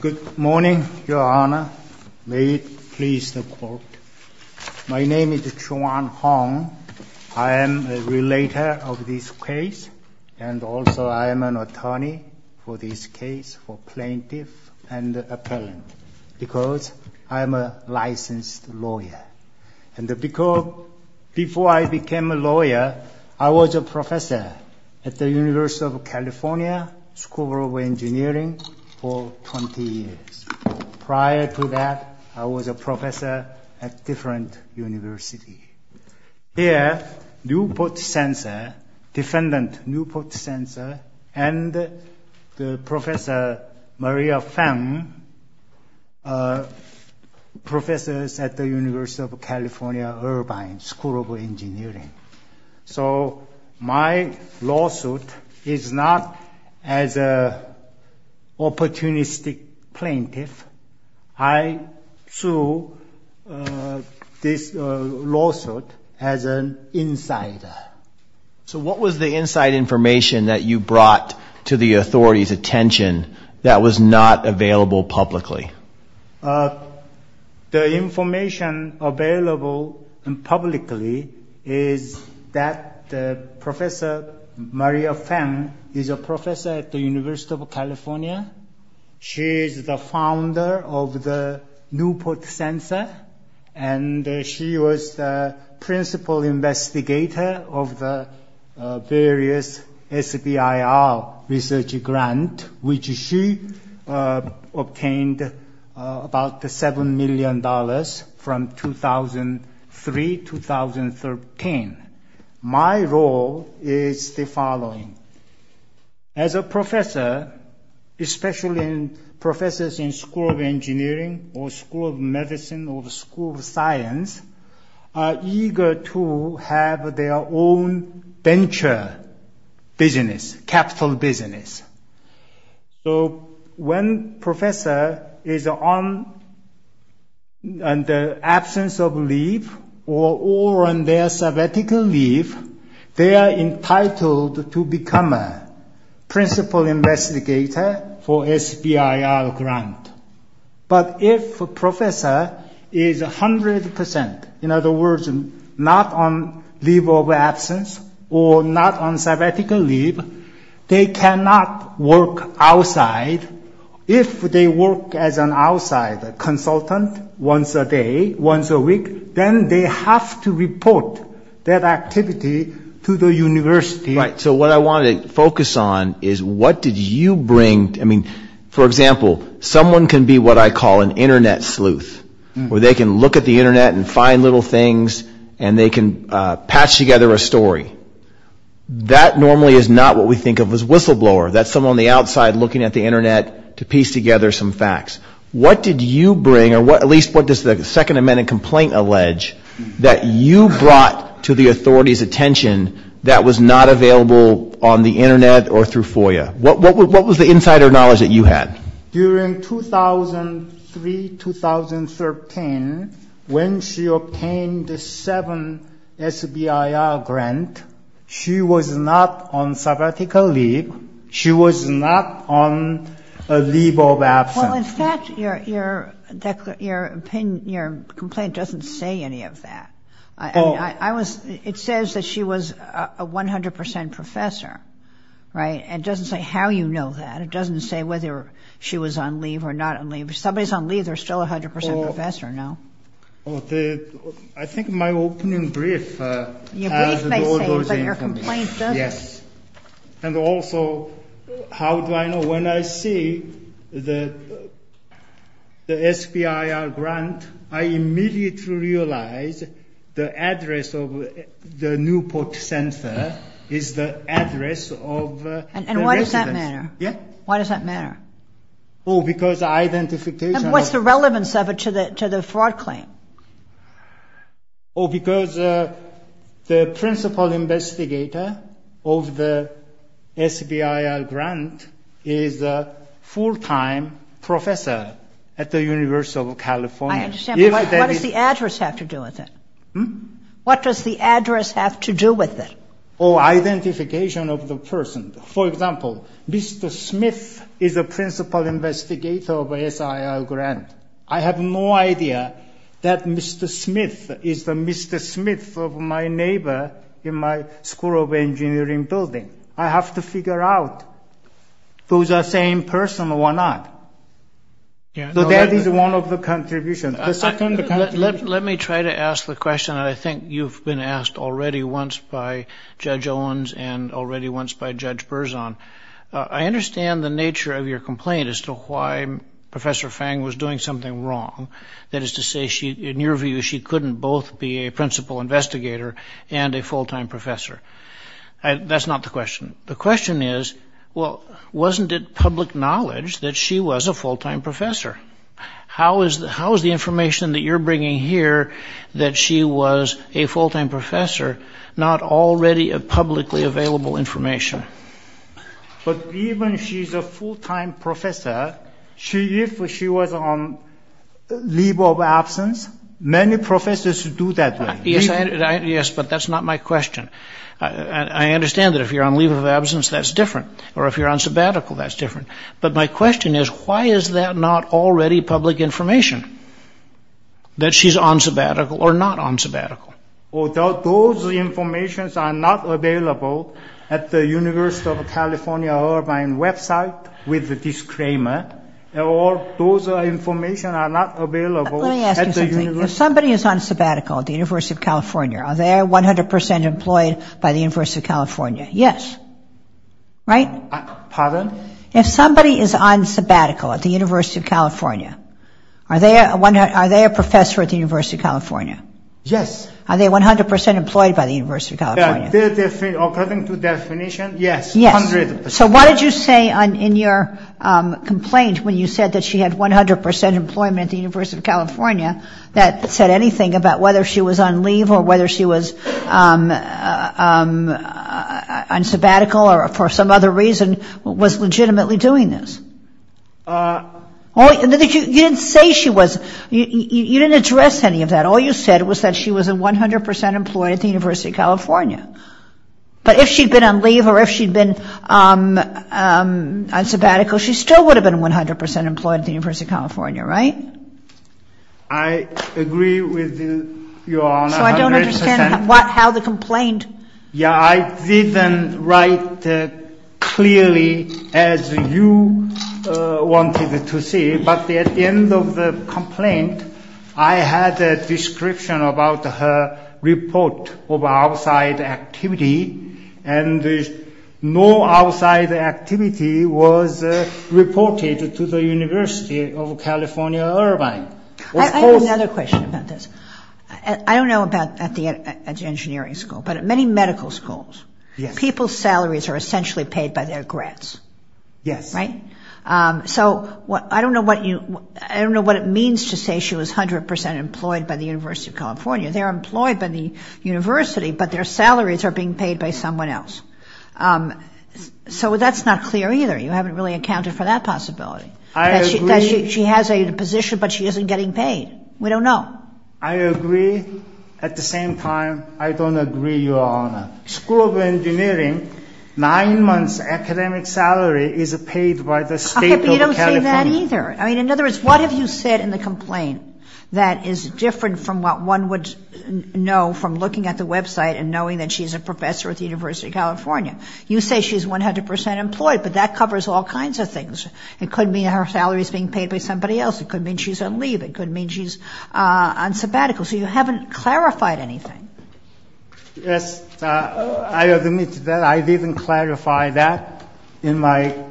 Good morning, Your Honor. May it please the court. My name is Juan Hong. I am a relator of this case, and also I am an attorney for this case for plaintiff and appellant because I am a licensed lawyer. And before I became a lawyer, I was a lawyer for 20 years. Prior to that, I was a professor at different universities. Here, Newport Sensors, defendant Newport Sensors, and Professor Maria Feng, professors at the University of California, Irvine School of Engineering. So my lawsuit is not as an opportunistic plaintiff. I sue this lawsuit as an insider. So what was the inside information that you brought to the authority's attention that was not available publicly? The information available publicly is that Professor Maria Feng is a professor at the University of California. She is the founder of the Newport Sensors, and she was the principal investigator of the various SBIR research grant, which she obtained about $7 million from 2003-2013. My role is the following. As a professor, especially professors in School of Engineering or School of Medicine or School of Science are eager to have their own venture business, capital business. So when professor is on the absence of leave or on their sabbatical leave, they are entitled to become a principal investigator for SBIR grant. But if a professor is 100%, in other words, not on leave of absence or not on sabbatical leave, they cannot work outside. If they work as an outside consultant once a day, once a week, then they have to report that activity to the university. So what I wanted to focus on is what did you bring? I mean, for example, someone can be what I call an Internet sleuth, where they can look at the Internet and find little things and they can patch together a story. That normally is not what we think of as whistleblower. That's someone on the outside looking at the Internet to piece together some facts. What did you bring or at least what does the Second Amendment complaint allege that you brought to the authority's attention that was not available on the Internet or through FOIA? What was the insider knowledge that you had? During 2003, 2013, when she obtained the seven SBIR grant, she was not on sabbatical leave. She was not on a leave of absence. Well, in fact, your complaint doesn't say any of that. It says that she was a 100% professor, right? And it doesn't say how you know that. It doesn't say whether she was on leave or not on leave. If somebody's on leave, they're still a 100% professor, no? I think my opening brief has all those information. And also, how do I know? When I see the SBIR grant, I immediately realize the address of the Newport Center is the address of the residence. Oh, because the principal investigator of the SBIR grant is a full-time professor at the University of California. I understand, but what does the address have to do with it? Oh, identification of the person. That Mr. Smith is the Mr. Smith of my neighbor in my school of engineering building. I have to figure out who's that same person and why not. That is one of the contributions. Let me try to ask the question that I think you've been asked already once by Judge Owens and already once by Judge Berzon. I understand the nature of your complaint as to why Professor Fang was doing something wrong. That is to say, in your view, she couldn't both be a principal investigator and a full-time professor. That's not the question. The question is, well, wasn't it public knowledge that she was a full-time professor? How is the information that you're bringing here that she was a full-time professor not already publicly available information? But even she's a full-time professor, if she was on leave of absence, many professors do that. Yes, but that's not my question. I understand that if you're on leave of absence, that's different, or if you're on sabbatical, that's different. But my question is, why is that not already public information, that she's on sabbatical or not on sabbatical? Those information are not available at the University of California Irvine website with this claim. Those information are not available at the University of California Irvine website. Are they 100% employed by the University of California? If somebody is on sabbatical at the University of California, are they a professor at the University of California? Are they 100% employed by the University of California? So what did you say in your complaint when you said that she had 100% employment at the University of California, that said anything about whether she was on leave or whether she was on sabbatical or for some other reason was legitimately doing this? You didn't say she was. You didn't address any of that. All you said was that she was 100% employed at the University of California. But if she'd been on leave or if she'd been on sabbatical, she still would have been 100% employed at the University of California, right? I agree with you, Your Honor. So I don't understand how the complaint... Yeah, I didn't write clearly as you wanted to see, but at the end of the complaint, there was no outside activity and no outside activity was reported to the University of California Irvine. I have another question about this. I don't know about at the engineering school, but at many medical schools, people's salaries are essentially paid by their grads, right? So I don't know what it means to say she was 100% employed by the University of California. They're employed by the university, but their salaries are being paid by someone else. So that's not clear either. You haven't really accounted for that possibility, that she has a position, but she isn't getting paid. We don't know. I agree. At the same time, I don't agree, Your Honor. School of engineering, nine months academic salary is paid by the state of California. Not either. I mean, in other words, what have you said in the complaint that is different from what one would know from looking at the website and knowing that she's a professor at the University of California? You say she's 100% employed, but that covers all kinds of things. It could mean her salary is being paid by somebody else. It could mean she's on leave. It could mean she's on sabbatical. So you haven't clarified anything. Yes, I admit that I didn't clarify that in my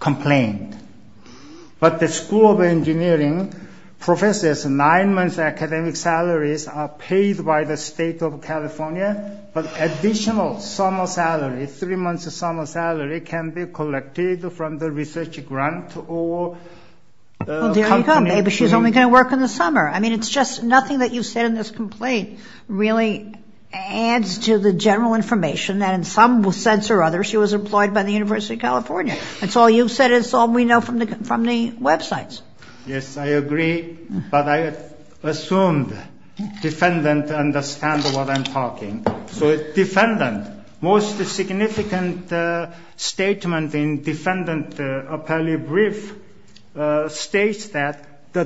complaint. But the school of engineering professors, nine months academic salaries are paid by the state of California, but additional summer salary, three months of summer salary, can be collected from the research grant or company. But she's only going to work in the summer. I mean, it's just nothing that you've said in this complaint really adds to the general information that in some sense or other, she was employed by the University of California. That's all you've said. It's all we know from the websites. The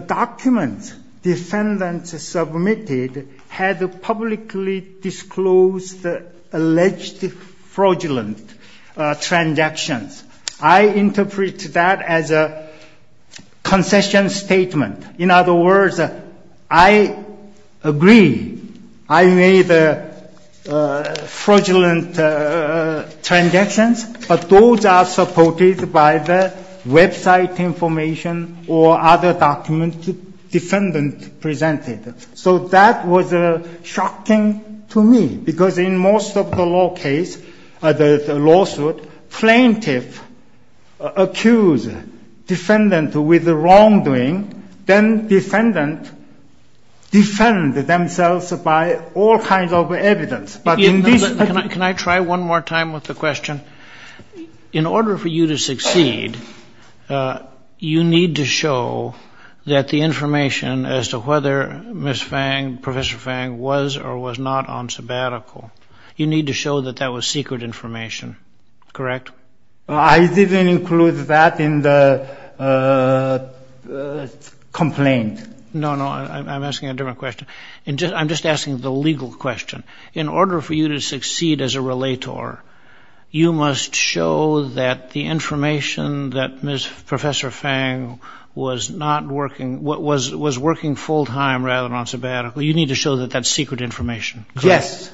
documents defendants submitted had publicly disclosed alleged fraudulent transactions. I interpret that as a concession statement. In other words, I agree I made fraudulent transactions, but those are supported by the website information or other documents. So that was shocking to me, because in most of the lawsuits, plaintiffs accuse defendants with wrongdoing. Then defendants defend themselves by all kinds of evidence. Can I try one more time with the question? In order for you to succeed, you need to show that the information as to whether Ms. Fang, Professor Fang, was or was not on sabbatical, you need to show that that was secret information, correct? I didn't include that in the complaint. No, no, I'm asking a different question. I'm just asking the legal question. You must show that the information that Ms. Professor Fang was not working, was working full-time rather than on sabbatical, you need to show that that's secret information. Yes.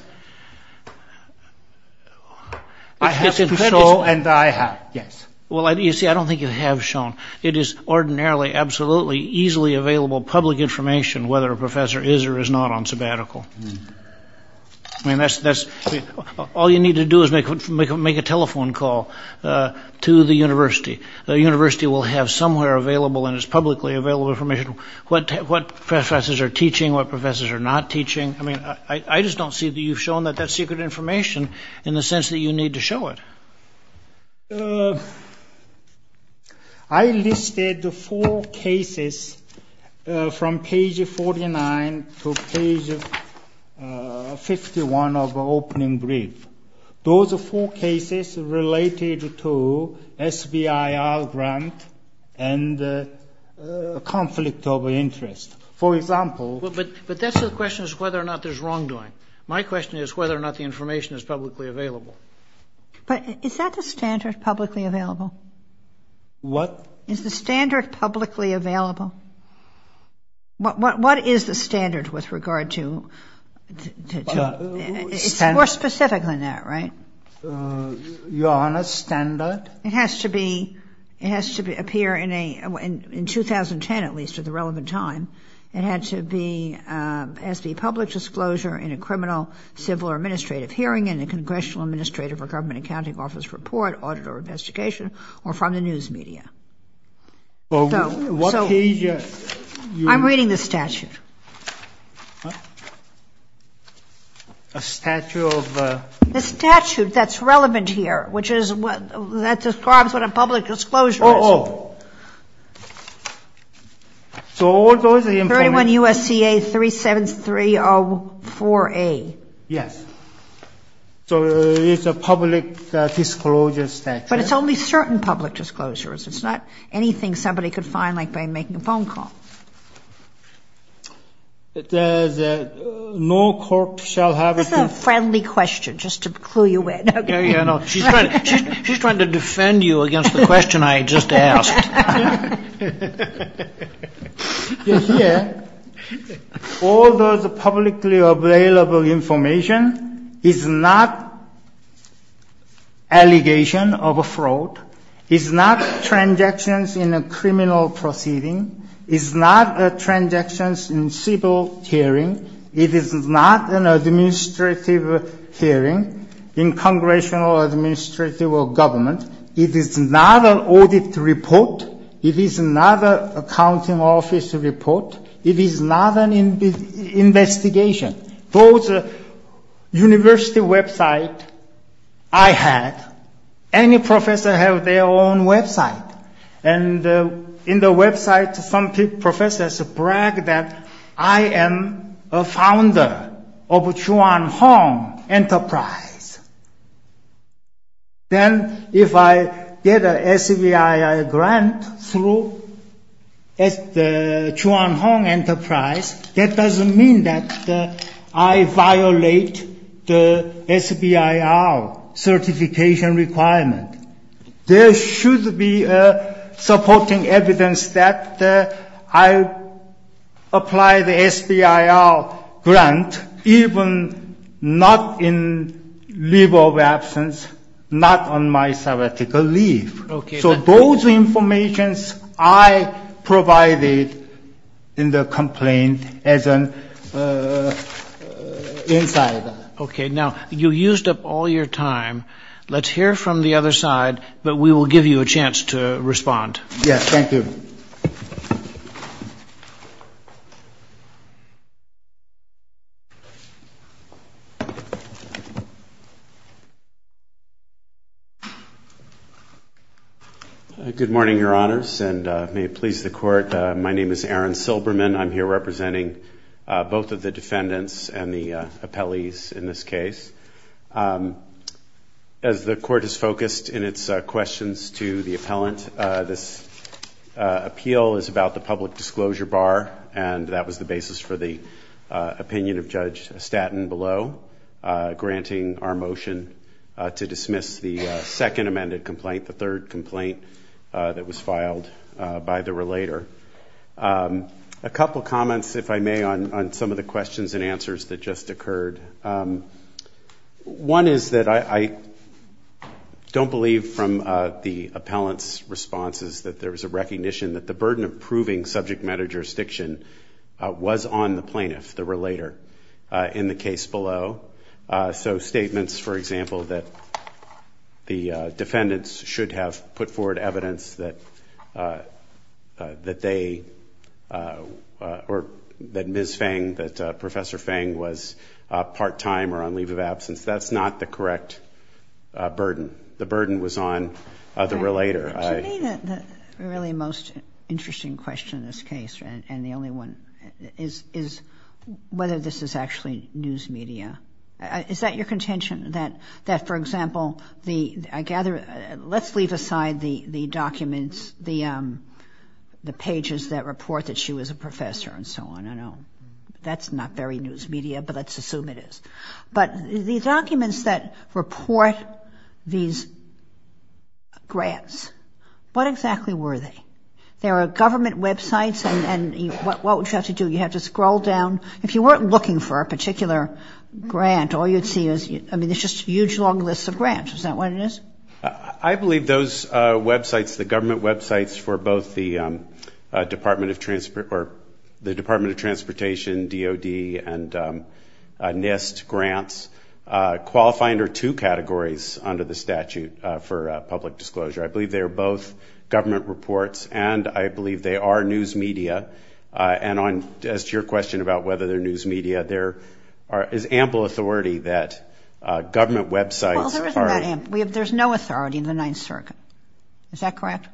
I have to show, and I have, yes. Well, you see, I don't think you have shown. It is ordinarily, absolutely, easily available public information whether a professor is or is not on sabbatical. I mean, that's, all you need to do is make a telephone call to the university. The university will have somewhere available, and it's publicly available information, what professors are teaching, what professors are not teaching. I mean, I just don't see that you've shown that that's secret information in the sense that you need to show it. I listed the four cases from page 49 to page 50. 51 of opening brief. Those are four cases related to SBIR grant and conflict of interest. For example... But that's the question is whether or not there's wrongdoing. My question is whether or not the information is publicly available. But is that the standard, publicly available? What? Is the standard publicly available? What is the standard with regard to... It's more specific than that, right? Your Honor, standard... It has to be, it has to appear in a, in 2010 at least, at the relevant time. It had to be, has to be public disclosure in a criminal, civil or administrative hearing, in a congressional administrative or government accounting office report, audit or investigation, or from the news media. So... A statute of... The statute that's relevant here, which is what, that describes what a public disclosure is. Oh, oh. 31 U.S.C.A. 37304A. Yes. So it's a public disclosure statute. But it's only certain public disclosures. It's not anything somebody could find, like by making a phone call. There's no court shall have... This is a friendly question, just to clue you in. She's trying to defend you against the question I just asked. Here, all those publicly available information is not allegation of a fraud. It's not transactions in a criminal proceeding. It's not transactions in civil hearing. It is not an administrative hearing in congressional administrative or government. It is not an audit report. It is not an accounting office report. It is not an investigation. Those university website I had, any professor have their own website. And in the website, some professors brag that I am a founder of Chuan Hong Enterprise. Then if I get an SBIR grant through Chuan Hong Enterprise, that doesn't mean that I violate the SBIR certification requirement. There should be supporting evidence that I apply the SBIR grant, even not in leave of absence, not on my sabbatical leave. So those information I provided in the complaint as an insider. Okay. Now, you used up all your time. Let's hear from the other side, but we will give you a chance to respond. Yes, thank you. Good morning, Your Honors, and may it please the Court, my name is Aaron Silberman. I'm here representing both of the defendants and the appellees in this case. As the Court has focused in its questions to the appellant, this appeal is about the public disclosure bar, and that was the basis for the opinion of Judge Staten below, granting our motion to dismiss the second amended complaint, the third complaint that was filed by the relator. A couple comments, if I may, on some of the questions and answers that just occurred. One is that I don't believe from the appellant's responses that there was a recognition that the burden of proving subject matter jurisdiction was on the plaintiff, the relator, in the case below. So statements, for example, that the defendants should have put forward evidence that they, or that Ms. Fang, that Professor Fang was part-time or on leave of absence, that's not the correct burden. The burden was on the relator. The really most interesting question in this case, and the only one, is whether this is actually news media. Is that your contention, that, for example, I gather, let's leave aside the documents, the pages that report that she was a professor and so on. That's not very news media, but let's assume it is. What exactly were they? There are government websites, and what would you have to do? You have to scroll down. If you weren't looking for a particular grant, all you'd see is, I mean, there's just huge long lists of grants. Is that what it is? I believe those websites, the government websites for both the Department of Transportation, DOD, and NIST grants, qualify under two categories under the statute for public disclosure. I believe they are both government reports, and I believe they are news media. And as to your question about whether they're news media, there is ample authority that government websites are... Well, there isn't that ample. There's no authority in the Ninth Circuit. Is that correct?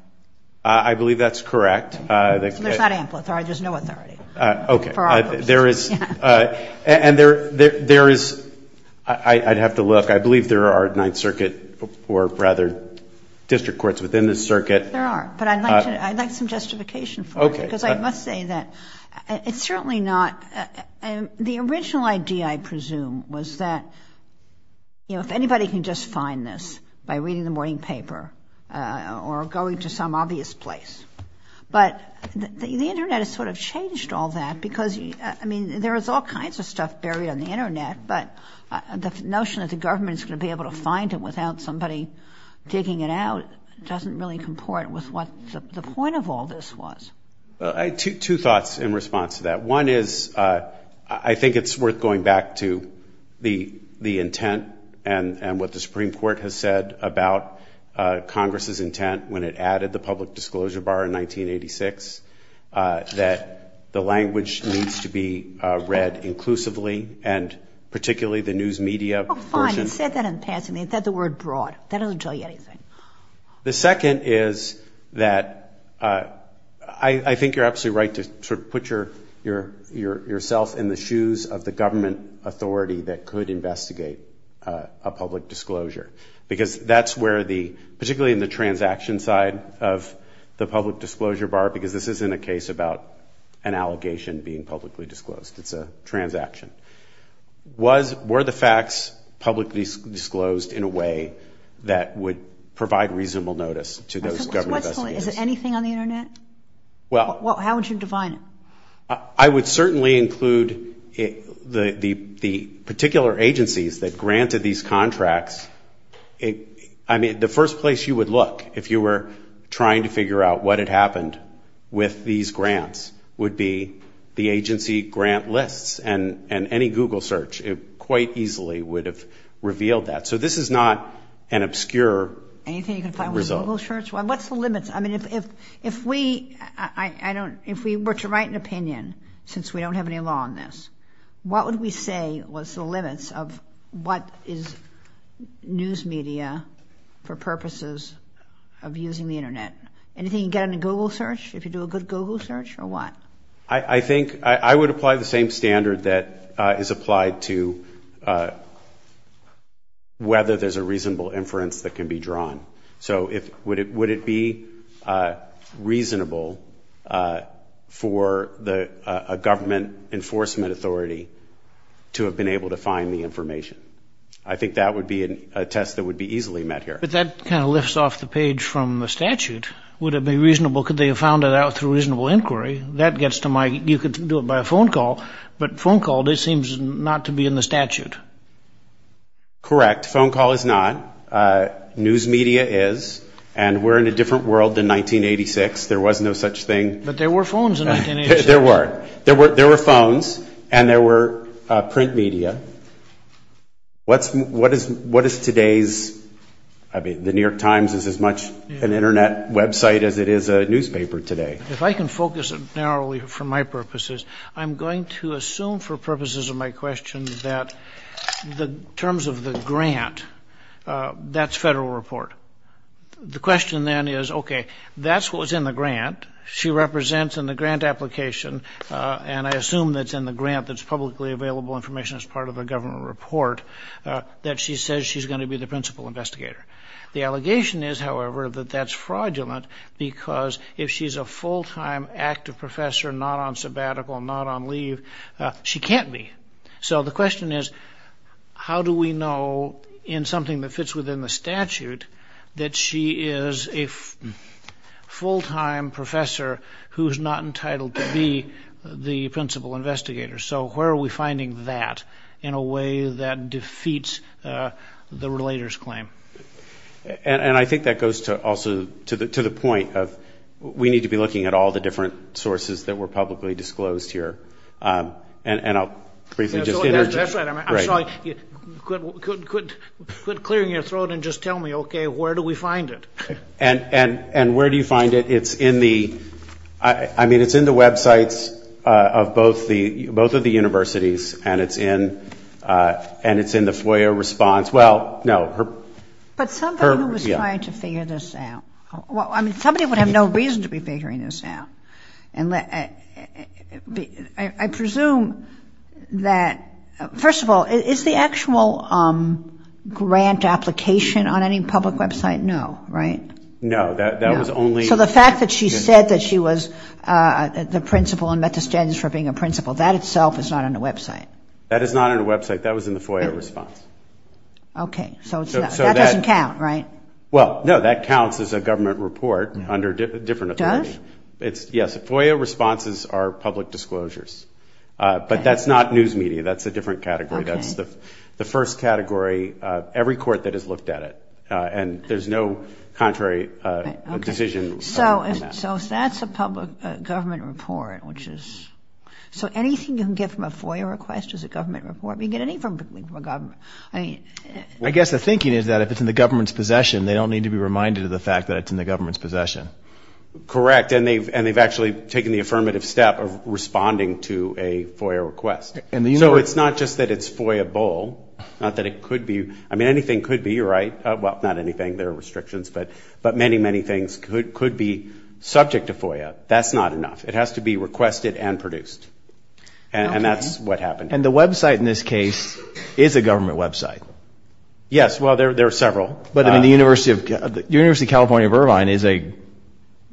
I believe that's correct. There's not ample authority. There's no authority for our purposes. I'd have to look. I believe there are Ninth Circuit, or rather, district courts within the circuit. There are, but I'd like some justification for it, because I must say that it's certainly not... The original idea, I presume, was that, you know, if anybody can just find this by reading the morning paper or going to some obvious place. But the Internet has sort of changed all that, because, I mean, there is all kinds of stuff buried on the Internet, but the notion that the government is going to be able to find it without somebody digging it out doesn't really comport with what the point of all this was. Two thoughts in response to that. One is, I think it's worth going back to the intent and what the Supreme Court has said about Congress's intent when it added the public disclosure bar in 1986, that the language needs to be read inclusively, and particularly the news media portion... Oh, fine. It said that in passing. It said the word broad. That doesn't tell you anything. The second is that I think you're absolutely right to sort of put yourself in the shoes of the government authority that could investigate a public disclosure, because that's where the... Particularly in the transaction side of the public disclosure bar, because this isn't a case about an allegation being publicly disclosed. It's a transaction. Were the facts publicly disclosed in a way that would provide reasonable notice to those government investigators? Is it anything on the Internet? How would you define it? I would certainly include the particular agencies that granted these contracts. I mean, the first place you would look if you were trying to figure out what had happened with these grants would be the agency grant lists and any Google search quite easily would have revealed that. So this is not an obscure result. Anything you can find with a Google search? What's the limits? I mean, if we were to write an opinion, since we don't have any law on this, what would we say was the limits of what is news media for purposes of using the Internet? Anything you can get on a Google search, if you do a good Google search, or what? I think I would apply the same standard that is applied to whether there's a reasonable inference that can be drawn. So would it be reasonable for a government enforcement authority to have been able to find the information? I think that would be a test that would be easily met here. But that kind of lifts off the page from the statute. Would it be reasonable, could they have found it out through reasonable inquiry? That gets to my, you could do it by a phone call, but phone call, it seems not to be in the statute. Correct. Phone call is not. News media is. And we're in a different world than 1986. There was no such thing. But there were phones in 1986. There were. There were phones, and there were print media. What is today's, I mean, the New York Times is as much an Internet website as it is a newspaper today. If I can focus it narrowly for my purposes, I'm going to assume for purposes of my question that the terms of the grant, that's federal report. The question then is, OK, that's what was in the grant. She represents in the grant application. And I assume that's in the grant that's publicly available information as part of the government report that she says she's going to be the principal investigator. The allegation is, however, that that's fraudulent because if she's a full time active professor, not on sabbatical, not on leave, she can't be. So the question is, how do we know in something that fits within the statute that she is a full time professor who's not entitled to be the principal investigator? So where are we finding that in a way that defeats the relator's claim? And I think that goes to also to the to the point of we need to be looking at all the different sources that were publicly disclosed here. And I'll briefly just interject. Quit clearing your throat and just tell me, OK, where do we find it? And where do you find it? It's in the I mean, it's in the websites of both the both of the universities. And it's in and it's in the FOIA response. Well, no. But somebody was trying to figure this out. I mean, somebody would have no reason to be figuring this out. And I presume that first of all, is the actual grant application on any public website? No, right? No, that was only. So the fact that she said that she was the principal and met the standards for being a principal, that itself is not on the website. That is not on a website that was in the FOIA response. OK, so that doesn't count, right? Well, no, that counts as a government report under a different authority. Yes, FOIA responses are public disclosures, but that's not news media. That's a different category. That's the first category of every court that has looked at it. And there's no contrary decision. So that's a public government report, which is so anything you can get from a FOIA request is a government report. We get anything from a government. I mean, I guess the thinking is that if it's in the government's possession, they don't need to be reminded of the fact that it's in the government's possession. Correct. And they've and they've actually taken the affirmative step of responding to a FOIA request. And so it's not just that it's FOIA bowl, not that it could be. I mean, anything could be right. Well, not anything. There are restrictions, but but many, many things could could be subject to FOIA. That's not enough. It has to be requested and produced. And that's what happened. And the Web site in this case is a government Web site. Yes. Well, there are several. But in the University of the University of California, Irvine is a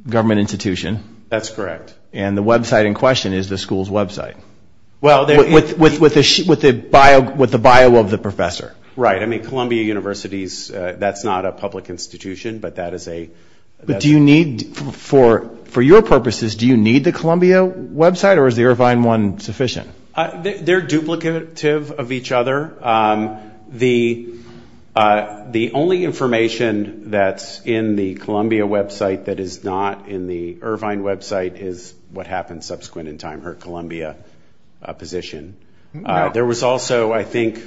government institution. That's correct. And the Web site in question is the school's Web site. Well, with with with the with the bio with the bio of the professor. Right. I mean, Columbia University's that's not a public institution, but that is a. Do you need for for your purposes? Do you need the Columbia Web site or is the Irvine one sufficient? They're duplicative of each other. The the only information that's in the Columbia Web site that is not in the Irvine Web site is what happened subsequent in time. Her Columbia position. There was also, I think,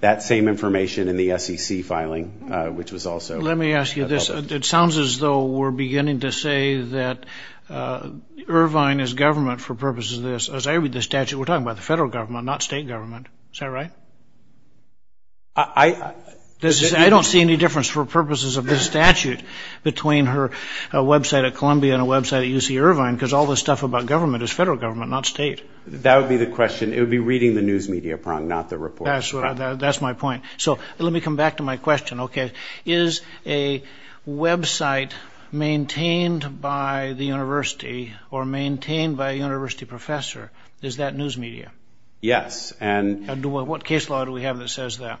that same information in the SEC filing, which was also. Let me ask you this. It sounds as though we're beginning to say that Irvine is government for purposes of this. As I read the statute, we're talking about the federal government, not state government. Is that right? I don't see any difference for purposes of this statute between her Web site at Columbia and a Web site at UC Irvine, because all this stuff about government is federal government, not state. That would be the question. It would be reading the news media prong, not the report. That's my point. So let me come back to my question. OK, is a Web site maintained by the university or maintained by a university professor? Is that news media? Yes. And what case law do we have that says that?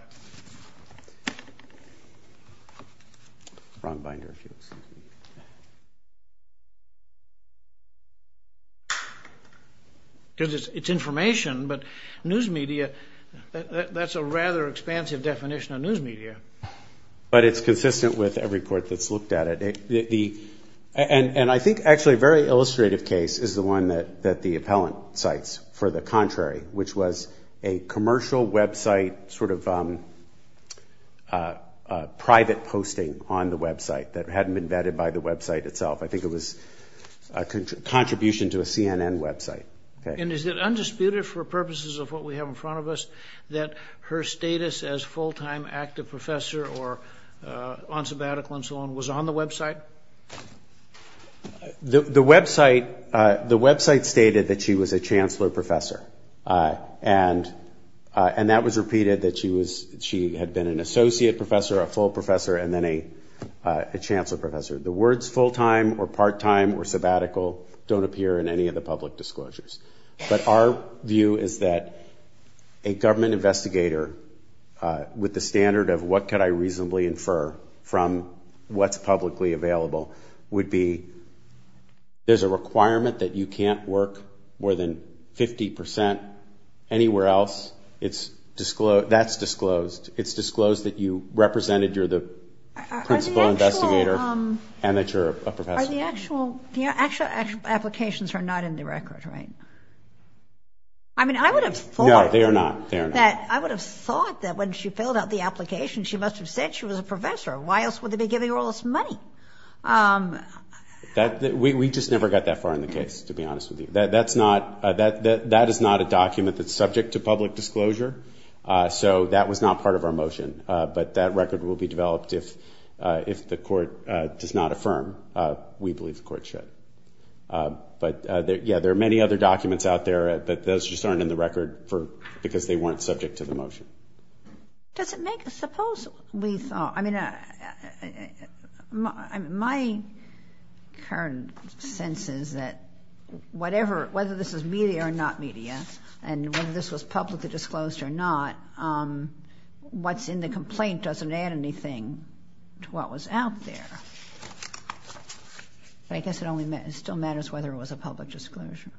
Wrong binder. It's information, but news media. That's a rather expansive definition of news media, but it's consistent with every court that's looked at it. And I think actually a very illustrative case is the one that that the appellant cites for the contrary, which was a commercial Web site, sort of private posting on the Web site that hadn't been vetted by the Web site itself. I think it was a contribution to a CNN Web site. And is it undisputed for purposes of what we have in front of us that her status as full time active professor or on sabbatical and so on was on the Web site? The Web site, the Web site stated that she was a chancellor professor and and that was repeated, that she was she had been an associate professor, a full professor and then a chancellor professor. The words full time or part time or sabbatical don't appear in any of the public disclosures. But our view is that a government investigator with the standard of what could I reasonably infer from what's publicly available would be. There's a requirement that you can't work more than 50 percent anywhere else. It's disclosed. That's disclosed. It's disclosed that you represented you're the principal investigator and that you're a professor. The actual applications are not in the record, right? I mean, I would have thought that I would have thought that when she filled out the application, she must have said she was a professor. Why else would they be giving all this money? That we just never got that far in the case, to be honest with you. That's not that that is not a document that's subject to public disclosure. So that was not part of our motion. But that record will be developed if if the court does not affirm, we believe the court should. But, yeah, there are many other documents out there. But those just aren't in the record for because they weren't subject to the motion. Does it make suppose we thought I mean, my current sense is that whatever whether this is media or not media and whether this was publicly disclosed or not, what's in the complaint doesn't add anything to what was out there. I guess it only still matters whether it was a public disclosure.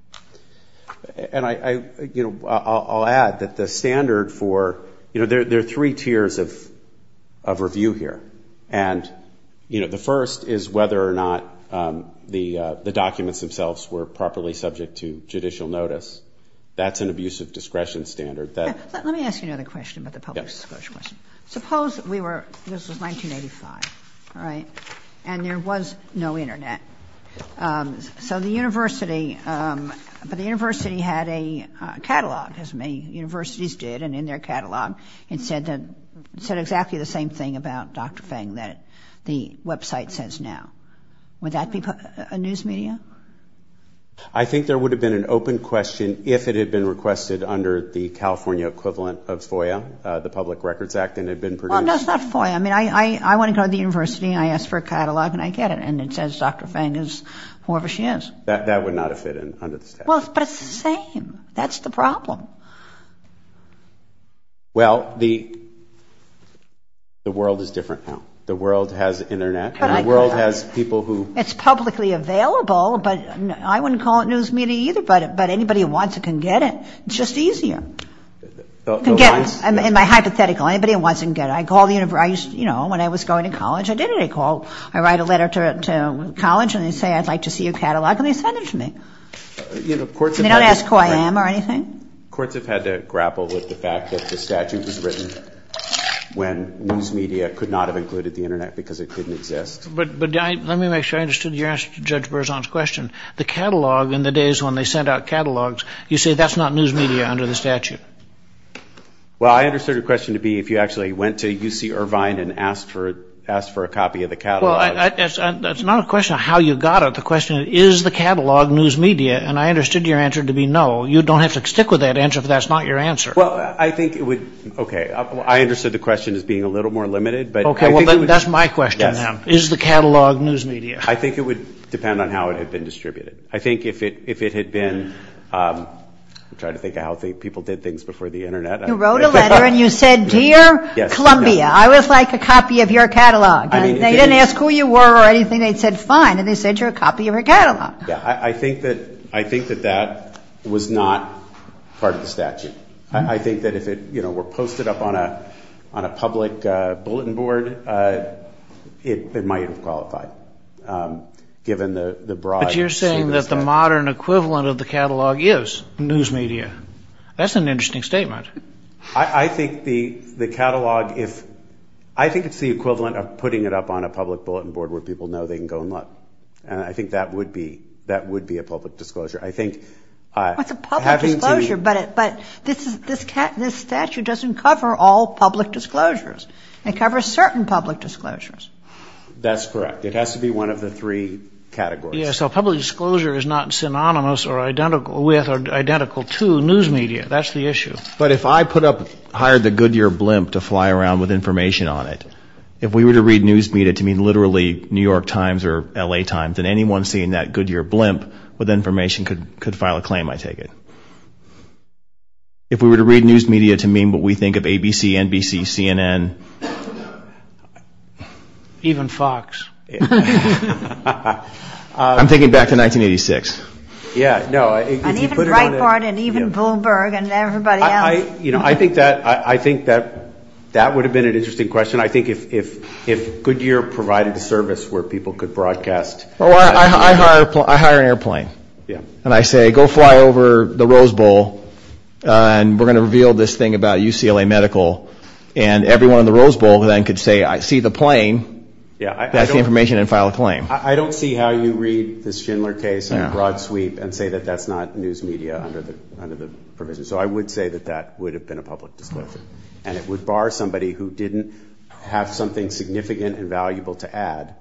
And I, you know, I'll add that the standard for, you know, there are three tiers of of review here. And, you know, the first is whether or not the documents themselves were properly subject to judicial notice. That's an abuse of discretion standard that let me ask, you know, the question about the public. Suppose we were this was 1985. All right. And there was no Internet. So the university but the university had a catalog as many universities did. And in their catalog, it said that said exactly the same thing about Dr. Fang that the website says now. Would that be a news media? I think there would have been an open question if it had been requested under the California equivalent of FOIA, the Public Records Act. And it had been produced. That's not for you. I mean, I want to go to the university. I asked for a catalog and I get it. And it says Dr. Fang is whoever she is. That would not have fit in under the statute. Well, but it's the same. That's the problem. Well, the world is different now. The world has Internet. The world has people who. It's publicly available. But I wouldn't call it news media either. But anybody who wants it can get it. It's just easier. In my hypothetical, anybody who wants it can get it. I call the university. You know, when I was going to college, I did get a call. I write a letter to college and they say, I'd like to see your catalog. And they send it to me. They don't ask who I am or anything. Courts have had to grapple with the fact that the statute was written when news media could not have included the Internet because it didn't exist. But let me make sure I understood your answer to Judge Berzon's question. The catalog in the days when they sent out catalogs, you say that's not news media under the statute. Well, I understood your question to be if you actually went to UC Irvine and asked for a copy of the catalog. Well, that's not a question of how you got it. The question is, is the catalog news media? And I understood your answer to be no. You don't have to stick with that answer if that's not your answer. Well, I think it would. Okay. I understood the question as being a little more limited. Okay. Well, that's my question, then. Is the catalog news media? I think it would depend on how it had been distributed. I think if it had been, I'm trying to think of how people did things before the Internet. You wrote a letter and you said, dear Columbia, I would like a copy of your catalog. They didn't ask who you were or anything. They said, fine. And they sent you a copy of your catalog. Yeah. I think that that was not part of the statute. I think that if it were posted up on a public bulletin board, it might have qualified, given the broad. But you're saying that the modern equivalent of the catalog is news media. That's an interesting statement. I think the catalog, I think it's the equivalent of putting it up on a public bulletin board where people know they can go and look. And I think that would be a public disclosure. It's a public disclosure, but this statute doesn't cover all public disclosures. It covers certain public disclosures. That's correct. It has to be one of the three categories. So public disclosure is not synonymous or identical with or identical to news media. That's the issue. But if I put up, hired the Goodyear blimp to fly around with information on it, if we were to read news media to mean literally New York Times or L.A. Times, then anyone seeing that Goodyear blimp with information could file a claim, I take it. If we were to read news media to mean what we think of ABC, NBC, CNN. Even Fox. I'm thinking back to 1986. Even Breitbart and even Bloomberg and everybody else. I think that would have been an interesting question. I think if Goodyear provided a service where people could broadcast. I hire an airplane and I say, go fly over the Rose Bowl and we're going to reveal this thing about UCLA Medical and everyone in the Rose Bowl then could say, I see the plane, pass the information and file a claim. I don't see how you read this Schindler case in a broad sweep and say that that's not news media under the provision. So I would say that that would have been a public disclosure. And it would bar somebody who didn't have something significant and valuable to add,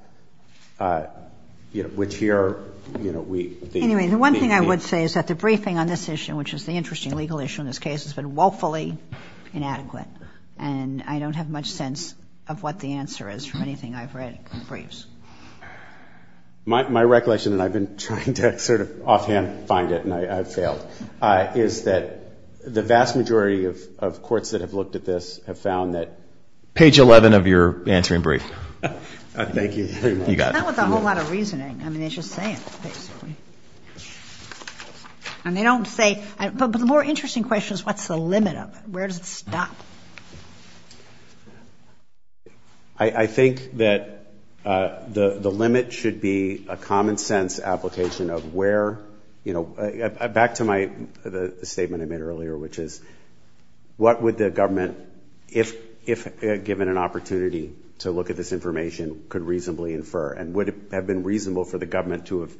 which here we think. Anyway, the one thing I would say is that the briefing on this issue, which is the interesting legal issue in this case, has been woefully inadequate. And I don't have much sense of what the answer is from anything I've read in briefs. My recollection, and I've been trying to sort of offhand find it and I've failed, is that the vast majority of courts that have looked at this have found that. Page 11 of your answer in brief. Thank you. You got it. Not with a whole lot of reasoning. I mean, they just say it basically. And they don't say, but the more interesting question is what's the limit of it? Where does it stop? I think that the limit should be a common sense application of where, you know, back to my statement I made earlier, which is what would the government, if given an opportunity to look at this information, could reasonably infer and would have been reasonable for the government to have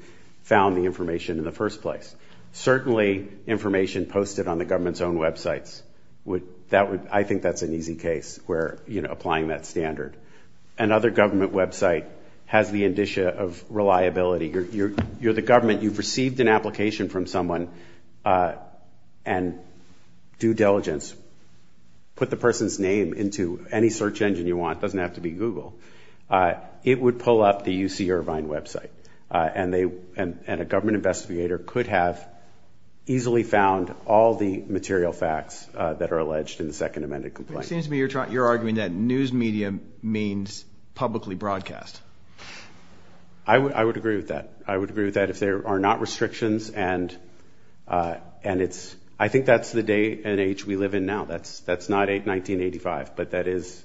found the information in the first place. Certainly information posted on the government's own websites. I think that's an easy case where, you know, applying that standard. Another government website has the indicia of reliability. You're the government. You've received an application from someone, and due diligence, put the person's name into any search engine you want. It doesn't have to be Google. It would pull up the UC Irvine website, and a government investigator could have easily found all the material facts that are alleged in the second amended complaint. It seems to me you're arguing that news media means publicly broadcast. I would agree with that. I would agree with that if there are not restrictions, and I think that's the day and age we live in now. That's not 1985, but that is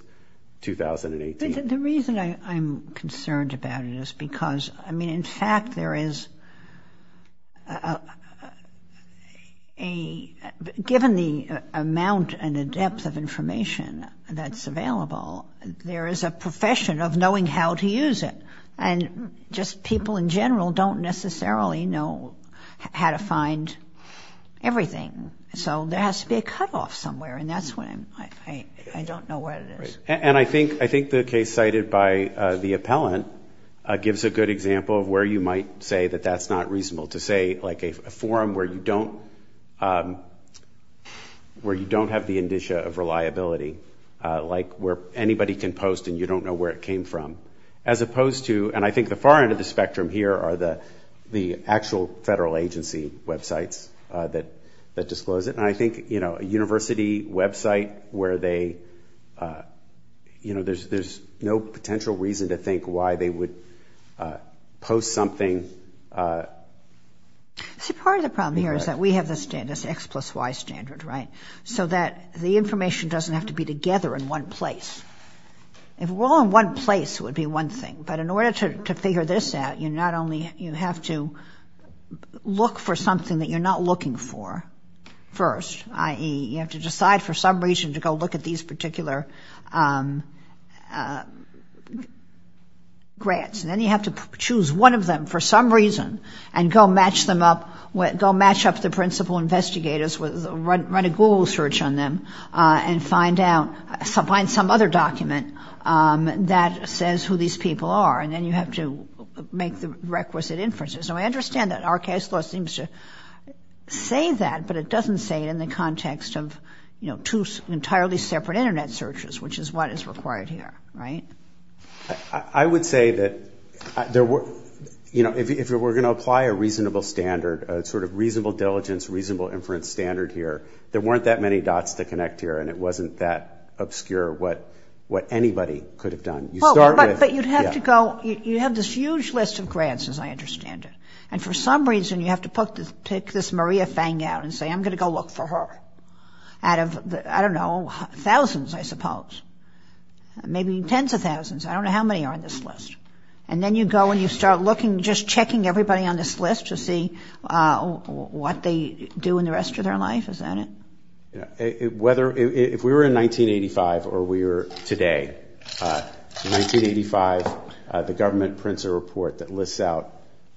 2018. The reason I'm concerned about it is because, I mean, in fact, there is a, given the amount and the depth of information that's available, there is a profession of knowing how to use it, and just people in general don't necessarily know how to find everything. So there has to be a cutoff somewhere, and that's what I'm, I don't know what it is. And I think the case cited by the appellant gives a good example of where you might say that that's not reasonable, to say like a forum where you don't have the indicia of reliability, like where anybody can post and you don't know where it came from, as opposed to, and I think the far end of the spectrum here are the actual federal agency websites that disclose it, and I think a university website where they, there's no potential reason to think why they would post something. See, part of the problem here is that we have this X plus Y standard, right? So that the information doesn't have to be together in one place. If we're all in one place, it would be one thing, but in order to figure this out, you not only, you have to look for something that you're not looking for first, i.e., you have to decide for some reason to go look at these particular grants, and then you have to choose one of them for some reason and go match them up, go match up the principal investigators, run a Google search on them, and find out, find some other document that says who these people are, and then you have to make the requisite inferences. Now, I understand that our case law seems to say that, but it doesn't say it in the context of two entirely separate Internet searches, which is what is required here, right? I would say that if we're going to apply a reasonable standard, a sort of reasonable diligence, reasonable inference standard here, there weren't that many dots to connect here, and it wasn't that obscure what anybody could have done. But you'd have to go, you have this huge list of grants, as I understand it, and for some reason you have to pick this Maria Fang out and say, I'm going to go look for her out of, I don't know, thousands, I suppose, maybe tens of thousands, I don't know how many are on this list, and then you go and you start looking, just checking everybody on this list to see what they do in the rest of their life, isn't it? If we were in 1985 or we are today, 1985, the government prints a report that lists out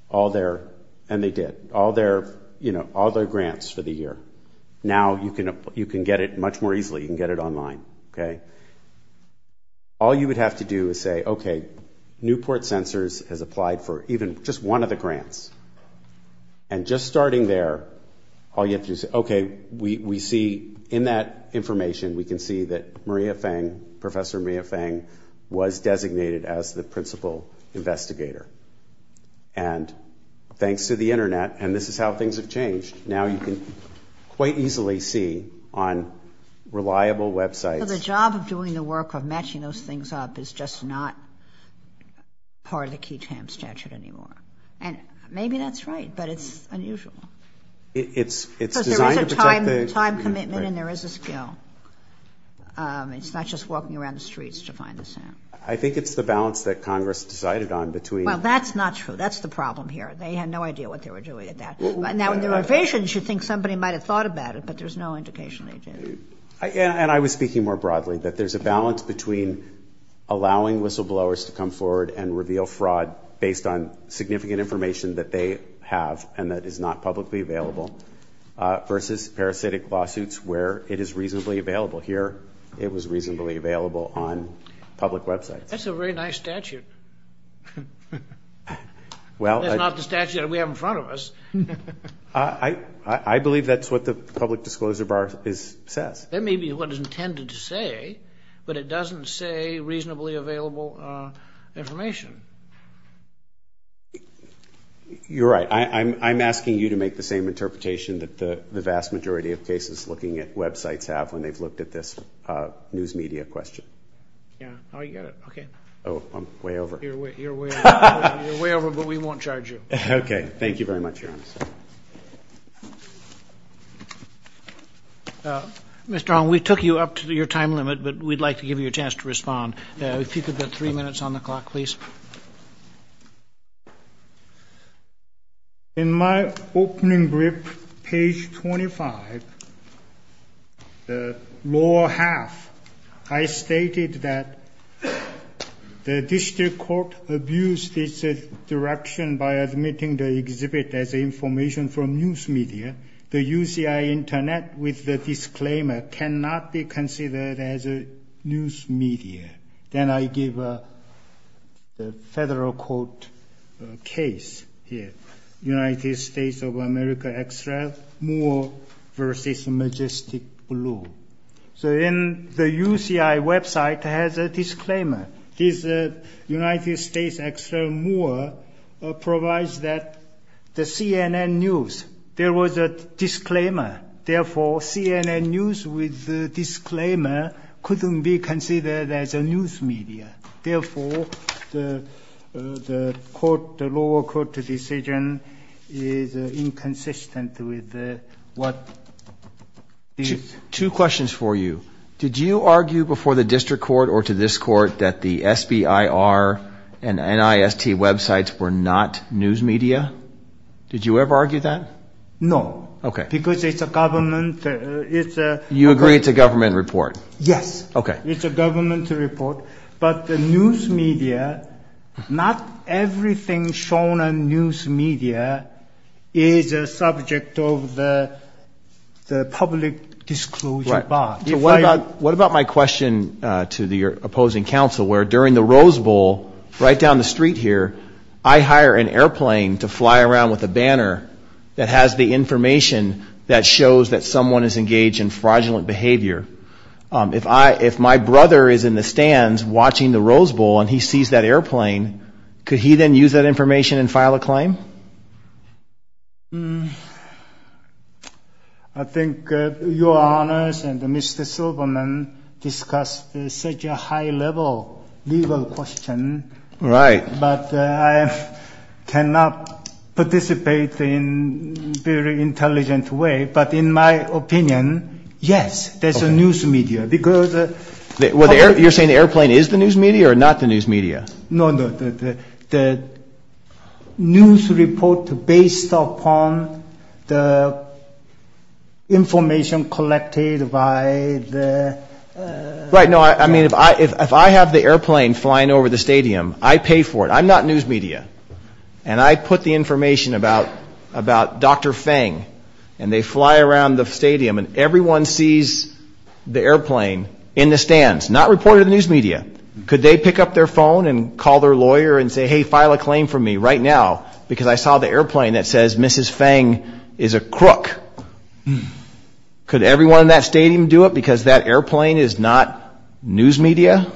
all their, and they did, all their grants for the year. Now you can get it much more easily. You can get it online, okay? All you would have to do is say, okay, Newport Sensors has applied for even just one of the grants, and just starting there, all you have to do is say, okay, we see in that information, we can see that Maria Fang, Professor Maria Fang was designated as the principal investigator. And thanks to the Internet, and this is how things have changed, now you can quite easily see on reliable websites. So the job of doing the work of matching those things up is just not part of the Key Champs statute anymore. And maybe that's right, but it's unusual. It's designed to protect the community. Because there is a time commitment and there is a skill. It's not just walking around the streets to find the sample. I think it's the balance that Congress decided on between. Well, that's not true. That's the problem here. They had no idea what they were doing at that. Now in the revisions, you'd think somebody might have thought about it, but there's no indication they did. And I was speaking more broadly, that there's a balance between allowing whistleblowers to come forward and reveal fraud based on significant information that they have and that is not publicly available versus parasitic lawsuits where it is reasonably available. Here it was reasonably available on public websites. That's a very nice statute. That's not the statute that we have in front of us. I believe that's what the public disclosure bar says. That may be what it's intended to say, but it doesn't say reasonably available information. You're right. I'm asking you to make the same interpretation that the vast majority of cases looking at websites have when they've looked at this news media question. Yeah. Oh, you got it. Okay. Oh, I'm way over. You're way over, but we won't charge you. Okay. Thank you very much, Your Honor. Mr. Ong, we took you up to your time limit, but we'd like to give you a chance to respond. If you could get three minutes on the clock, please. In my opening brief, page 25, the lower half, I stated that the district court abused its direction by admitting the exhibit as information from news media. The UCI Internet, with the disclaimer, cannot be considered as news media. Then I give a federal court case here, United States of America Extra, Moore v. Majestic Blue. So the UCI website has a disclaimer. This United States Extra, Moore, provides that the CNN News, there was a disclaimer. Therefore, CNN News, with the disclaimer, couldn't be considered as news media. Therefore, the lower court decision is inconsistent with what it is. Two questions for you. Did you argue before the district court or to this court that the SBIR and NIST websites were not news media? Did you ever argue that? No. Okay. Because it's a government. You agree it's a government report? Yes. Okay. It's a government report, but the news media, not everything shown on news media is a subject of the public disclosure bar. Right. What about my question to your opposing counsel, where during the Rose Bowl, right down the street here, I hire an airplane to fly around with a banner that has the information that shows that someone is engaged in fraudulent behavior. If my brother is in the stands watching the Rose Bowl and he sees that airplane, could he then use that information and file a claim? I think your honors and Mr. Silverman discussed such a high-level legal question. Right. But I cannot participate in very intelligent way. But in my opinion, yes, there's a news media. You're saying the airplane is the news media or not the news media? No, no. The news report based upon the information collected by the – I pay for it. I'm not news media. And I put the information about Dr. Fang and they fly around the stadium and everyone sees the airplane in the stands, not reported to the news media. Could they pick up their phone and call their lawyer and say, hey, file a claim for me right now, because I saw the airplane that says Mrs. Fang is a crook. Could everyone in that stadium do it because that airplane is not news media?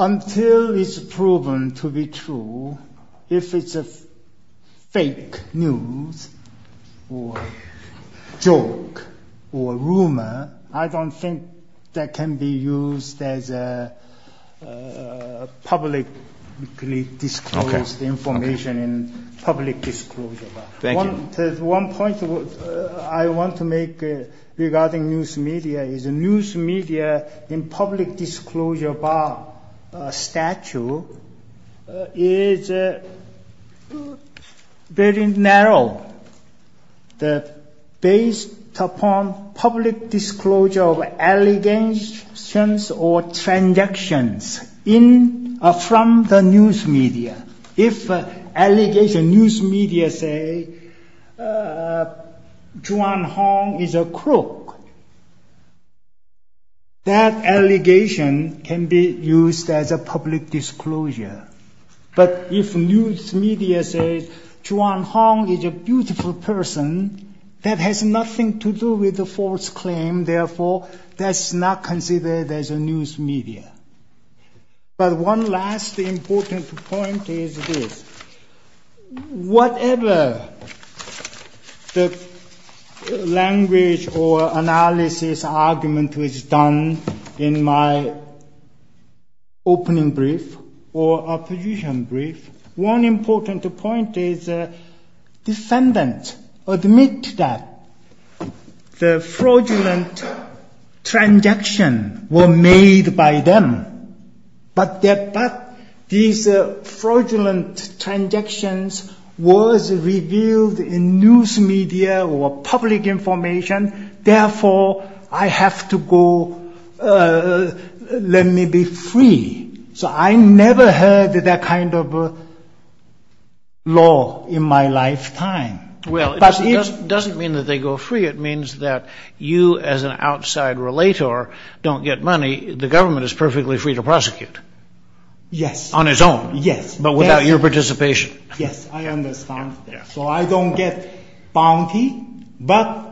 Until it's proven to be true, if it's fake news or joke or rumor, I don't think that can be used as publicly disclosed information in public disclosure. Thank you. One point I want to make regarding news media is news media in public disclosure bar statute is very narrow. Based upon public disclosure of allegations or transactions from the news media, if news media say, Zhuang Hong is a crook, that allegation can be used as a public disclosure. But if news media say Zhuang Hong is a beautiful person, that has nothing to do with the false claim, therefore that's not considered as news media. But one last important point is this. Whatever the language or analysis argument was done in my opening brief or opposition brief, one important point is defendants admit that the fraudulent transaction was made by them, but these fraudulent transactions was revealed in news media or public information, therefore I have to go, let me be free. So I never heard that kind of law in my lifetime. Well, it doesn't mean that they go free. It means that you as an outside relator don't get money. The government is perfectly free to prosecute. Yes. On its own. Yes. But without your participation. Yes, I understand. So I don't get bounty, but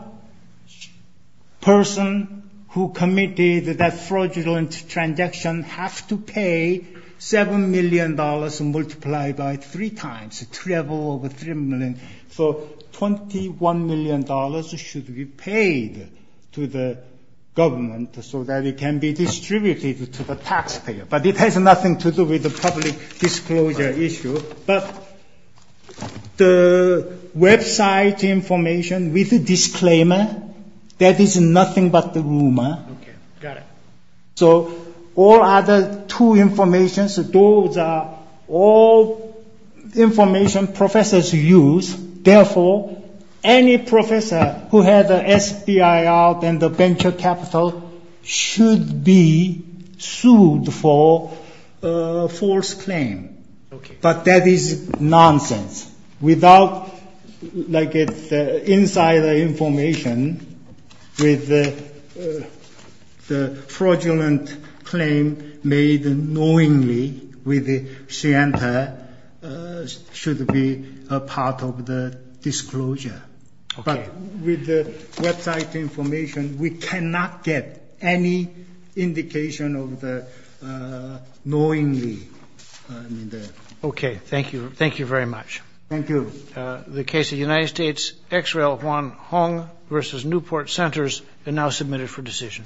person who committed that fraudulent transaction have to pay $7 million multiplied by three times. So $21 million should be paid to the government so that it can be distributed to the taxpayer. But it has nothing to do with the public disclosure issue. But the website information with a disclaimer, that is nothing but the rumor. Okay, got it. So all other two information, those are all information professors use, therefore any professor who has SBIR and the venture capital should be sued for false claim. Okay. But that is nonsense. Like inside the information with the fraudulent claim made knowingly with the center should be a part of the disclosure. But with the website information, we cannot get any indication of the knowingly. Okay. Thank you. Thank you very much. Thank you. The case of United States X-Rail Huang Hong versus Newport Centers is now submitted for decision.